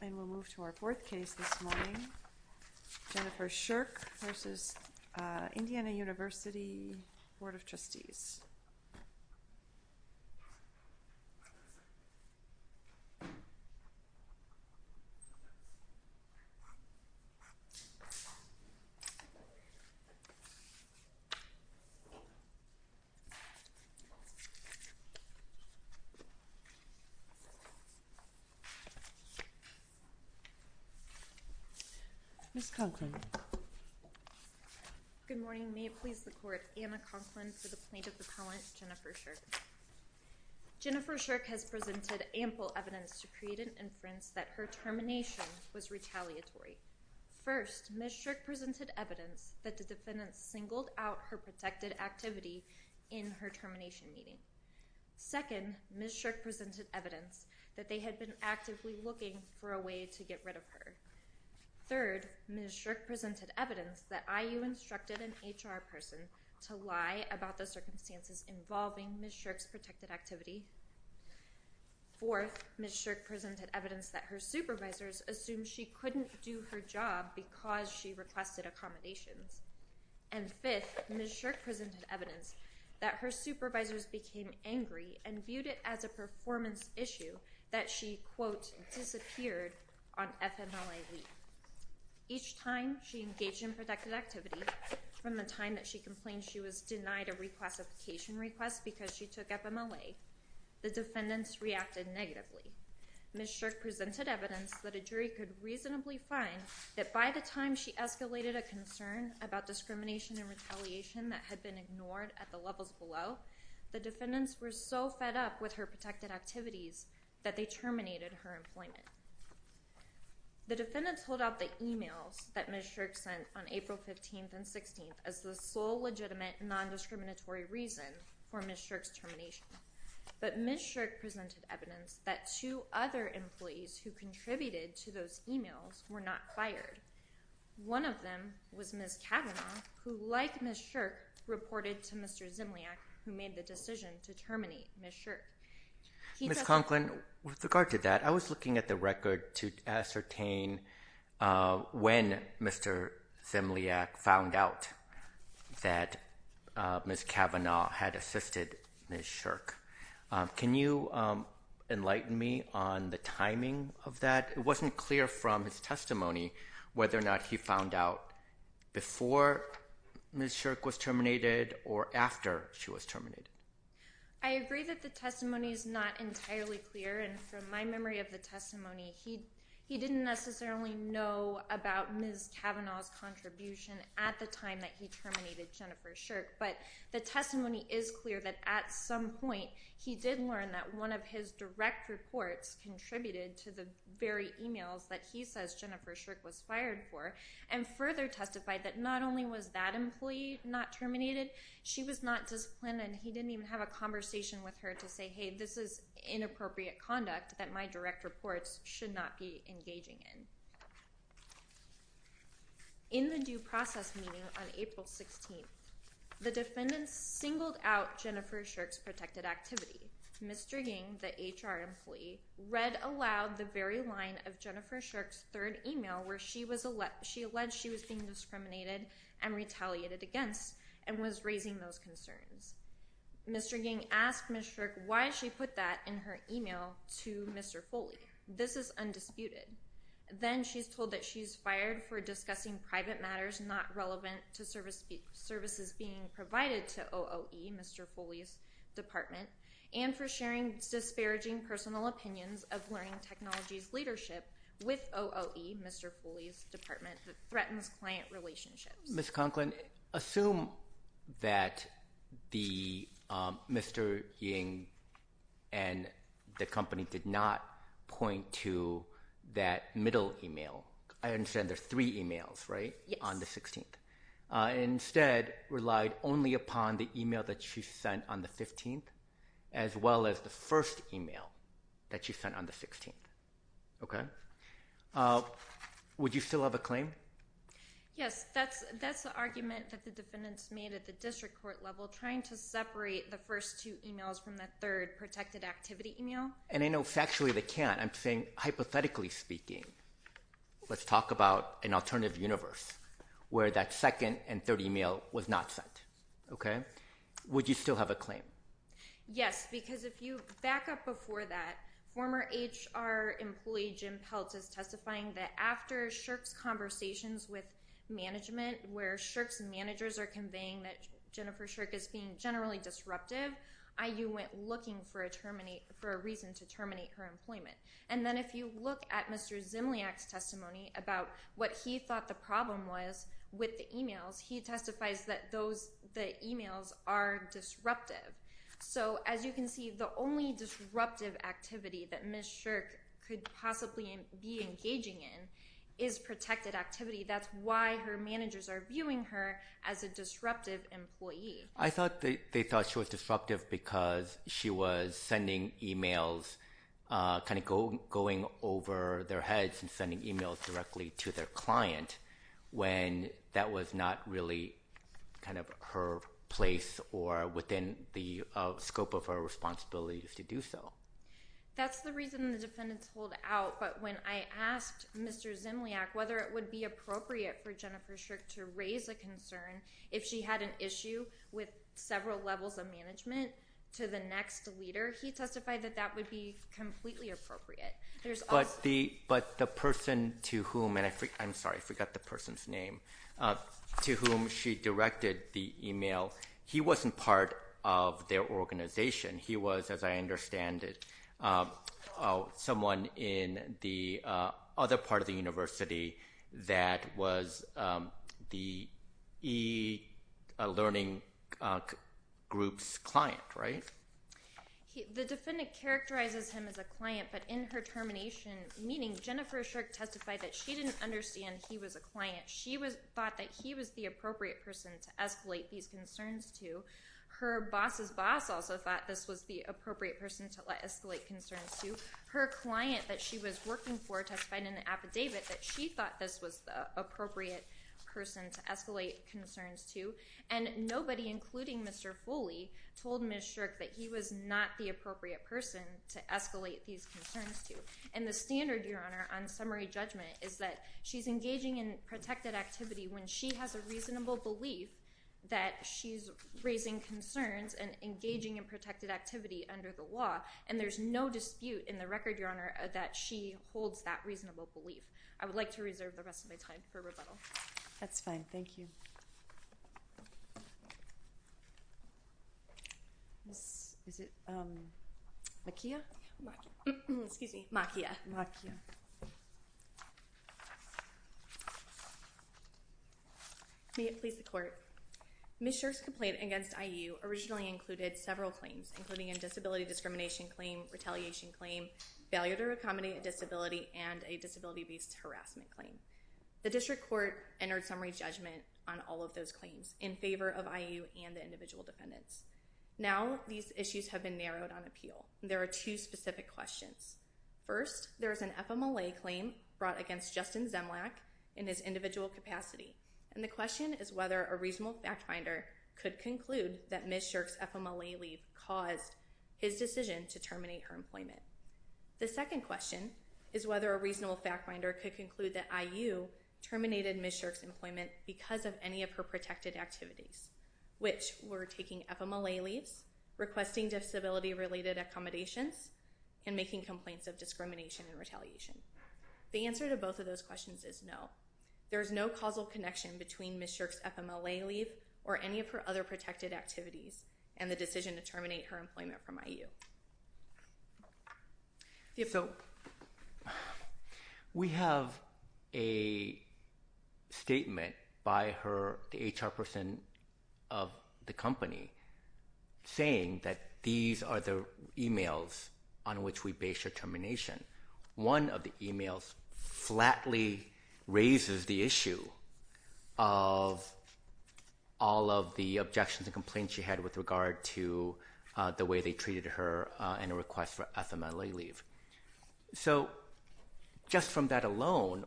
And we'll move to our fourth case this morning. Jennifer Shirk v. Indiana University Board of Trustees. Ms. Conklin. Good morning. May it please the Court, Anna Conklin for the Plaintiff Appellant, Jennifer Shirk. Jennifer Shirk has presented ample evidence to create an inference that her termination was retaliatory. First, Ms. Shirk presented evidence that the defendant singled out her protected activity in her termination meeting. Second, Ms. Shirk presented evidence that they had been actively looking for a way to get rid of her. Third, Ms. Shirk presented evidence that IU instructed an HR person to lie about the circumstances involving Ms. Shirk's protected activity. Fourth, Ms. Shirk presented evidence that her supervisors assumed she couldn't do her job because she requested accommodations. And fifth, Ms. Shirk presented evidence that her supervisors became angry and viewed it as a performance issue that she, quote, disappeared on FMLA leave. Each time she engaged in protected activity, from the time that she complained she was denied a reclassification request because she took FMLA, the defendants reacted negatively. Ms. Shirk presented evidence that a jury could reasonably find that by the time she escalated a concern about discrimination and retaliation that had been ignored at the levels below, the defendants were so fed up with her protected activities that they terminated her employment. The defendants hold out the emails that Ms. Shirk sent on April 15th and 16th as the sole legitimate non-discriminatory reason for Ms. Shirk's termination. But Ms. Shirk presented evidence that two other employees who contributed to those emails were not fired. One of them was Ms. Kavanaugh, who, like Ms. Shirk, reported to Mr. Zimliak, who made the decision to terminate Ms. Shirk. Ms. Conklin, with regard to that, I was looking at the record to ascertain when Mr. Zimliak found out that Ms. Kavanaugh had assisted Ms. Shirk. Can you enlighten me on the timing of that? It wasn't clear from his testimony whether or not he found out before Ms. Shirk was terminated or after she was terminated. I agree that the testimony is not entirely clear, and from my memory of the testimony, he didn't necessarily know about Ms. Kavanaugh's contribution at the time that he terminated Jennifer Shirk. But the testimony is clear that at some point he did learn that one of his direct reports contributed to the very emails that he says Jennifer Shirk was fired for, and further testified that not only was that employee not terminated, she was not disciplined, and he didn't even have a conversation with her to say, hey, this is inappropriate conduct that my direct reports should not be engaging in. In the due process meeting on April 16th, the defendants singled out Jennifer Shirk's protected activity. Mr. Ng, the HR employee, read aloud the very line of Jennifer Shirk's third email where she alleged she was being discriminated and retaliated against and was raising those concerns. Mr. Ng asked Ms. Shirk why she put that in her email to Mr. Foley. This is undisputed. Then she's told that she's fired for discussing private matters not relevant to services being provided to OOE, Mr. Foley's department, and for sharing disparaging personal opinions of learning technologies leadership with OOE, Mr. Foley's department, that threatens client relationships. Ms. Conklin, assume that Mr. Ng and the company did not point to that middle email. I understand there are three emails, right? Yes. On the 16th. Instead, relied only upon the email that she sent on the 15th as well as the first email that she sent on the 16th. Okay. Would you still have a claim? Yes. That's the argument that the defendants made at the district court level trying to separate the first two emails from the third protected activity email. And I know factually they can't. I'm saying hypothetically speaking, let's talk about an alternative universe where that second and third email was not sent, okay? Would you still have a claim? Yes, because if you back up before that, former HR employee Jim Peltz is testifying that after SSHRC's conversations with management, where SSHRC's managers are conveying that Jennifer SSHRC is being generally disruptive, IU went looking for a reason to terminate her employment. And then if you look at Mr. Zimliak's testimony about what he thought the problem was with the emails, he testifies that the emails are disruptive. So as you can see, the only disruptive activity that Ms. SSHRC could possibly be engaging in is protected activity. That's why her managers are viewing her as a disruptive employee. I thought they thought she was disruptive because she was sending emails, kind of going over their heads and sending emails directly to their client, when that was not really kind of her place or within the scope of her responsibilities to do so. That's the reason the defendants hold out, but when I asked Mr. Zimliak whether it would be appropriate for Jennifer SSHRC to raise a concern if she had an issue with several levels of management to the next leader, he testified that that would be completely appropriate. But the person to whom, and I'm sorry, I forgot the person's name, to whom she directed the email, he wasn't part of their organization. He was, as I understand it, someone in the other part of the university that was the e-learning group's client, right? The defendant characterizes him as a client, but in her termination meeting, Jennifer SSHRC testified that she didn't understand he was a client. She thought that he was the appropriate person to escalate these concerns to. Her boss's boss also thought this was the appropriate person to escalate concerns to. Her client that she was working for testified in an affidavit that she thought this was the appropriate person to escalate concerns to. And nobody, including Mr. Foley, told Ms. SSHRC that he was not the appropriate person to escalate these concerns to. And the standard, Your Honor, on summary judgment is that she's engaging in protected activity when she has a reasonable belief that she's raising concerns and engaging in protected activity under the law. And there's no dispute in the record, Your Honor, that she holds that reasonable belief. I would like to reserve the rest of my time for rebuttal. That's fine. Thank you. Is it Makiya? Excuse me. Makiya. Makiya. May it please the Court. Ms. SSHRC's complaint against IU originally included several claims, including a disability discrimination claim, retaliation claim, failure to accommodate a disability, and a disability-based harassment claim. The district court entered summary judgment on all of those claims in favor of IU and the individual defendants. Now these issues have been narrowed on appeal. There are two specific questions. First, there is an FMLA claim brought against Justin Zemlack in his individual capacity. And the question is whether a reasonable fact finder could conclude that Ms. SSHRC's FMLA leave caused his decision to terminate her employment. The second question is whether a reasonable fact finder could conclude that IU terminated Ms. SSHRC's employment because of any of her protected activities, which were taking FMLA leaves, requesting disability-related accommodations, and making complaints of discrimination and retaliation. The answer to both of those questions is no. There is no causal connection between Ms. SSHRC's FMLA leave or any of her other protected activities and the decision to terminate her employment from IU. So we have a statement by the HR person of the company saying that these are the emails on which we base her termination. One of the emails flatly raises the issue of all of the objections and complaints she had with regard to the way they treated her and a request for FMLA leave. So just from that alone,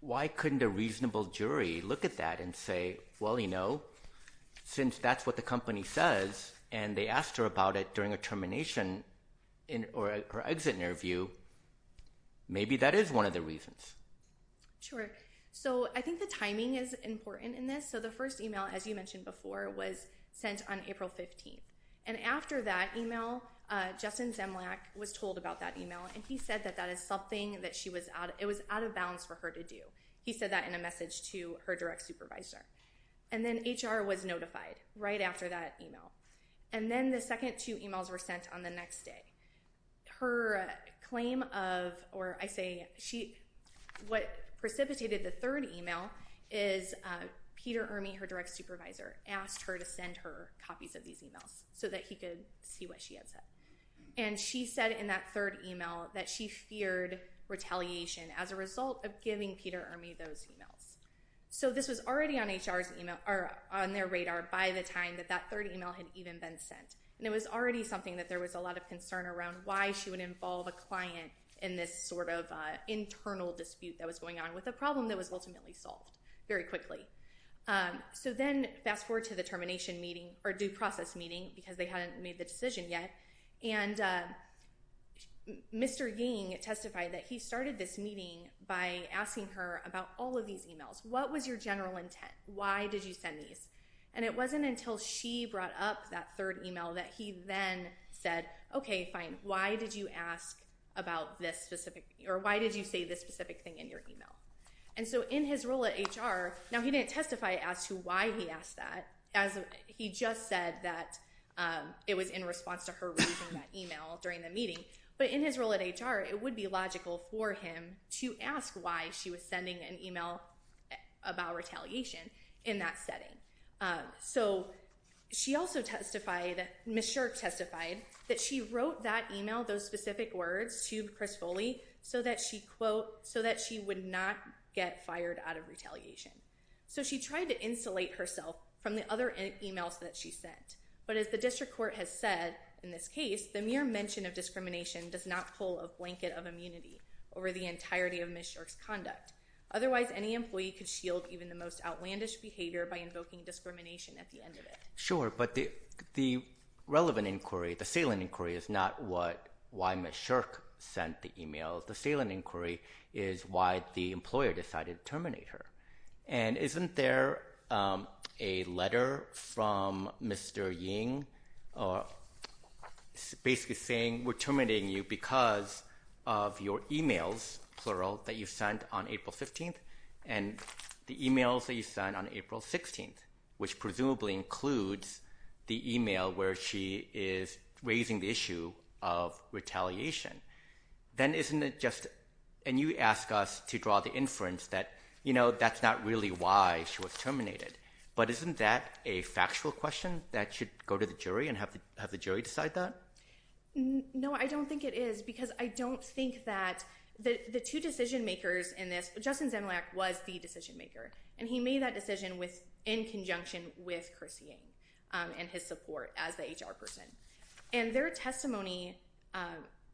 why couldn't a reasonable jury look at that and say, well, you know, since that's what the company says and they asked her about it during a termination or exit interview, maybe that is one of the reasons. Sure. So I think the timing is important in this. So the first email, as you mentioned before, was sent on April 15th. And after that email, Justin Zemlack was told about that email, and he said that that is something that she was – it was out of bounds for her to do. He said that in a message to her direct supervisor. And then HR was notified right after that email. And then the second two emails were sent on the next day. Her claim of – or I say she – what precipitated the third email is Peter Ermey, her direct supervisor, asked her to send her copies of these emails. So that he could see what she had said. And she said in that third email that she feared retaliation as a result of giving Peter Ermey those emails. So this was already on HR's email – or on their radar by the time that that third email had even been sent. And it was already something that there was a lot of concern around why she would involve a client in this sort of internal dispute that was going on with a problem that was ultimately solved very quickly. So then fast forward to the termination meeting – or due process meeting, because they hadn't made the decision yet. And Mr. Ying testified that he started this meeting by asking her about all of these emails. What was your general intent? Why did you send these? And it wasn't until she brought up that third email that he then said, okay, fine. Why did you ask about this specific – or why did you say this specific thing in your email? And so in his role at HR – now he didn't testify as to why he asked that. He just said that it was in response to her reading that email during the meeting. But in his role at HR, it would be logical for him to ask why she was sending an email about retaliation in that setting. So she also testified – Ms. Shirk testified that she wrote that email, those specific words, to Chris Foley, so that she, quote, so that she would not get fired out of retaliation. So she tried to insulate herself from the other emails that she sent. But as the district court has said in this case, the mere mention of discrimination does not pull a blanket of immunity over the entirety of Ms. Shirk's conduct. Otherwise, any employee could shield even the most outlandish behavior by invoking discrimination at the end of it. Sure, but the relevant inquiry, the salient inquiry, is not what – why Ms. Shirk sent the email. The salient inquiry is why the employer decided to terminate her. And isn't there a letter from Mr. Ying basically saying we're terminating you because of your emails, plural, that you sent on April 15th and the emails that you sent on April 16th, which presumably includes the email where she is raising the issue of retaliation? Then isn't it just – and you ask us to draw the inference that, you know, that's not really why she was terminated. But isn't that a factual question that should go to the jury and have the jury decide that? No, I don't think it is because I don't think that the two decision makers in this – Justin Zemlack was the decision maker, and he made that decision in conjunction with Chris Ying and his support as the HR person. And their testimony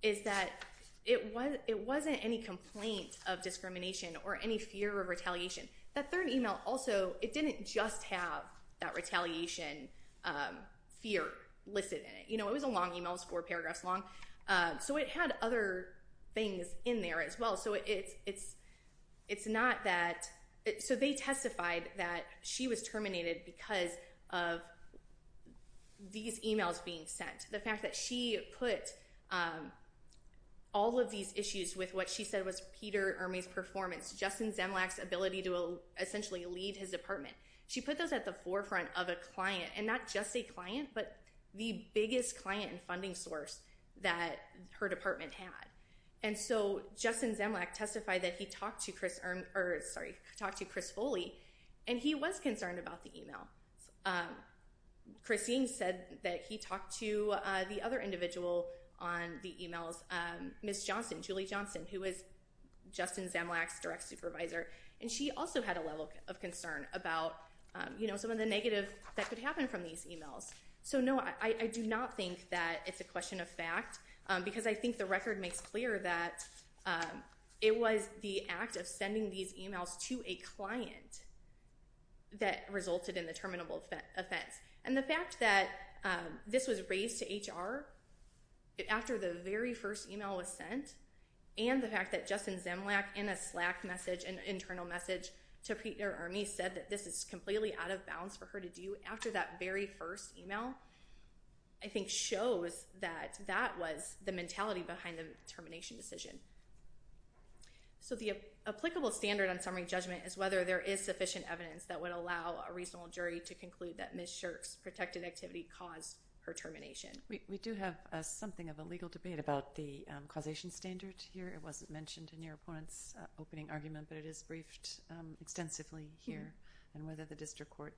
is that it wasn't any complaint of discrimination or any fear of retaliation. That third email also – it didn't just have that retaliation fear listed in it. You know, it was a long email, four paragraphs long. So it had other things in there as well. So it's not that – so they testified that she was terminated because of these emails being sent. The fact that she put all of these issues with what she said was Peter Ermey's performance, Justin Zemlack's ability to essentially lead his department. She put those at the forefront of a client, and not just a client, but the biggest client and funding source that her department had. And so Justin Zemlack testified that he talked to Chris Ermey – or, sorry, talked to Chris Foley, and he was concerned about the email. Chris Ying said that he talked to the other individual on the emails, Miss Johnson, Julie Johnson, who was Justin Zemlack's direct supervisor. And she also had a level of concern about, you know, some of the negative that could happen from these emails. So, no, I do not think that it's a question of fact, because I think the record makes clear that it was the act of sending these emails to a client that resulted in the terminable offense. And the fact that this was raised to HR after the very first email was sent, and the fact that Justin Zemlack, in a Slack message, an internal message to Peter Ermey, said that this is completely out of bounds for her to do after that very first email, I think shows that that was the mentality behind the termination decision. So the applicable standard on summary judgment is whether there is sufficient evidence that would allow a reasonable jury to conclude that Miss Shirk's protected activity caused her termination. We do have something of a legal debate about the causation standard here. It wasn't mentioned in your opponent's opening argument, but it is briefed extensively here, and whether the district court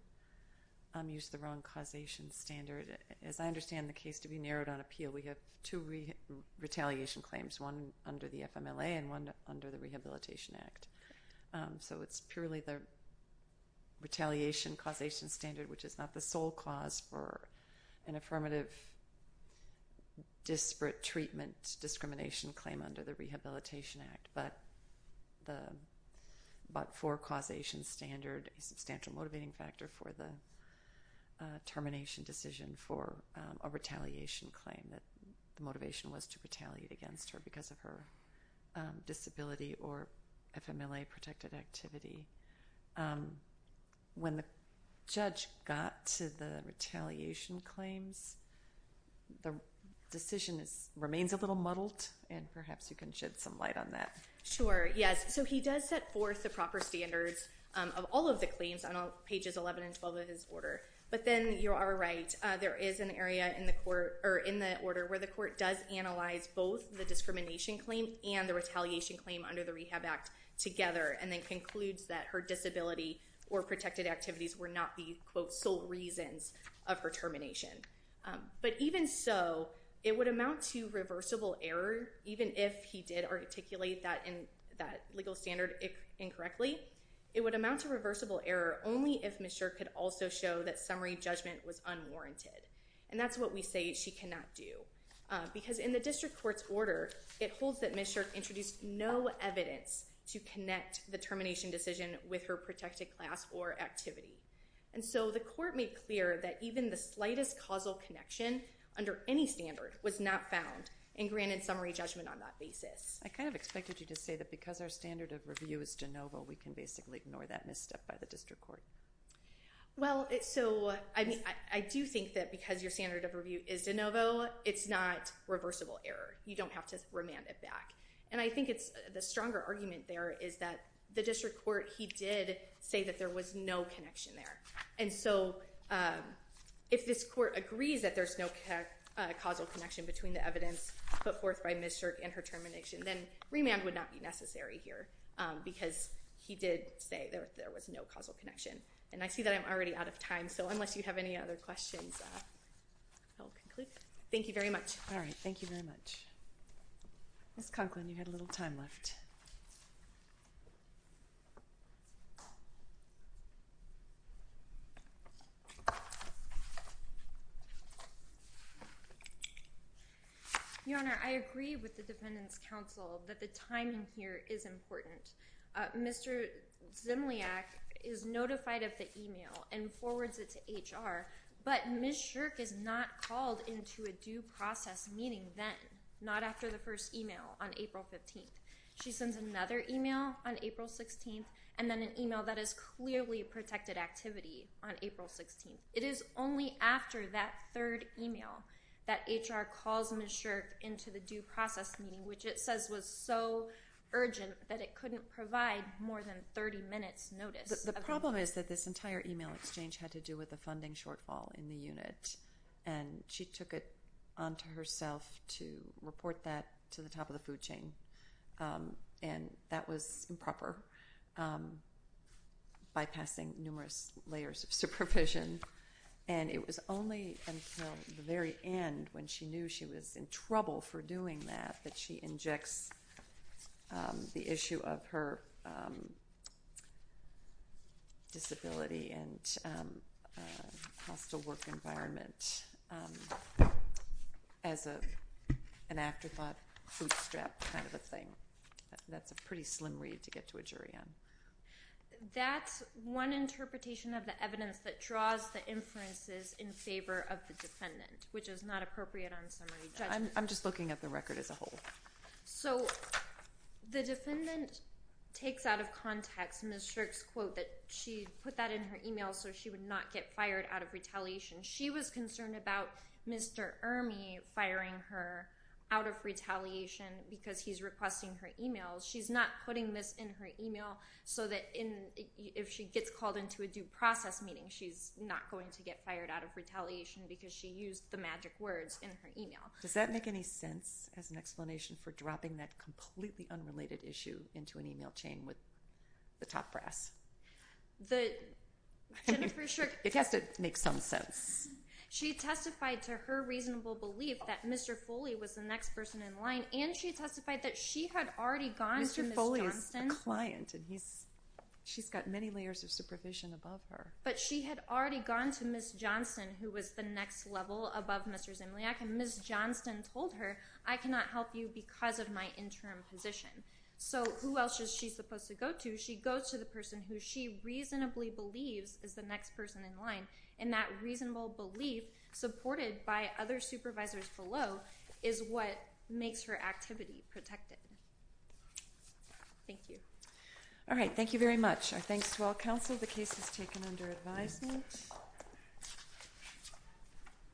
used the wrong causation standard. As I understand the case to be narrowed on appeal, we have two retaliation claims, one under the FMLA and one under the Rehabilitation Act. So it's purely the retaliation causation standard, which is not the sole cause for an affirmative disparate treatment discrimination claim under the Rehabilitation Act, but for causation standard, a substantial motivating factor for the termination decision for a retaliation claim. The motivation was to retaliate against her because of her disability or FMLA-protected activity. When the judge got to the retaliation claims, the decision remains a little muddled, and perhaps you can shed some light on that. Sure, yes. So he does set forth the proper standards of all of the claims on pages 11 and 12 of his order, but then you are right. There is an area in the order where the court does analyze both the discrimination claim and the retaliation claim under the Rehab Act together, and then concludes that her disability or protected activities were not the, quote, sole reasons of her termination. But even so, it would amount to reversible error, even if he did articulate that legal standard incorrectly. It would amount to reversible error only if Ms. Shirk could also show that summary judgment was unwarranted, and that's what we say she cannot do. Because in the district court's order, it holds that Ms. Shirk introduced no evidence to connect the termination decision with her protected class or activity. And so the court made clear that even the slightest causal connection under any standard was not found and granted summary judgment on that basis. I kind of expected you to say that because our standard of review is de novo, we can basically ignore that misstep by the district court. Well, so I do think that because your standard of review is de novo, it's not reversible error. You don't have to remand it back. And I think the stronger argument there is that the district court, he did say that there was no connection there. And so if this court agrees that there's no causal connection between the evidence put forth by Ms. Shirk and her termination, then remand would not be necessary here because he did say there was no causal connection. And I see that I'm already out of time, so unless you have any other questions, I'll conclude. Thank you very much. All right. Thank you very much. Ms. Conklin, you had a little time left. Your Honor, I agree with the Defendant's counsel that the timing here is important. Mr. Zimliak is notified of the email and forwards it to HR. But Ms. Shirk is not called into a due process meeting then, not after the first email on April 15th. She sends another email on April 16th and then an email that is clearly protected activity on April 16th. It is only after that third email that HR calls Ms. Shirk into the due process meeting, which it says was so urgent that it couldn't provide more than 30 minutes' notice. The problem is that this entire email exchange had to do with a funding shortfall in the unit, and she took it onto herself to report that to the top of the food chain. And that was improper, bypassing numerous layers of supervision. And it was only until the very end, when she knew she was in trouble for doing that, that she injects the issue of her disability and hostile work environment as an afterthought, bootstrap kind of a thing. That's a pretty slim read to get to a jury on. That's one interpretation of the evidence that draws the inferences in favor of the Defendant, which is not appropriate on summary judgment. I'm just looking at the record as a whole. So the Defendant takes out of context Ms. Shirk's quote that she put that in her email so she would not get fired out of retaliation. She was concerned about Mr. Ermey firing her out of retaliation because he's requesting her emails. She's not putting this in her email so that if she gets called into a due process meeting, she's not going to get fired out of retaliation because she used the magic words in her email. Does that make any sense as an explanation for dropping that completely unrelated issue into an email chain with the top brass? It has to make some sense. She testified to her reasonable belief that Mr. Foley was the next person in line, and she testified that she had already gone to Ms. Johnston. Mr. Foley is a client, and she's got many layers of supervision above her. But she had already gone to Ms. Johnston, who was the next level above Mr. Zimliak, and Ms. Johnston told her, I cannot help you because of my interim position. So who else is she supposed to go to? She goes to the person who she reasonably believes is the next person in line, and that reasonable belief supported by other supervisors below is what makes her activity protected. Thank you. All right, thank you very much. Our thanks to all counsel. The case is taken under advisement.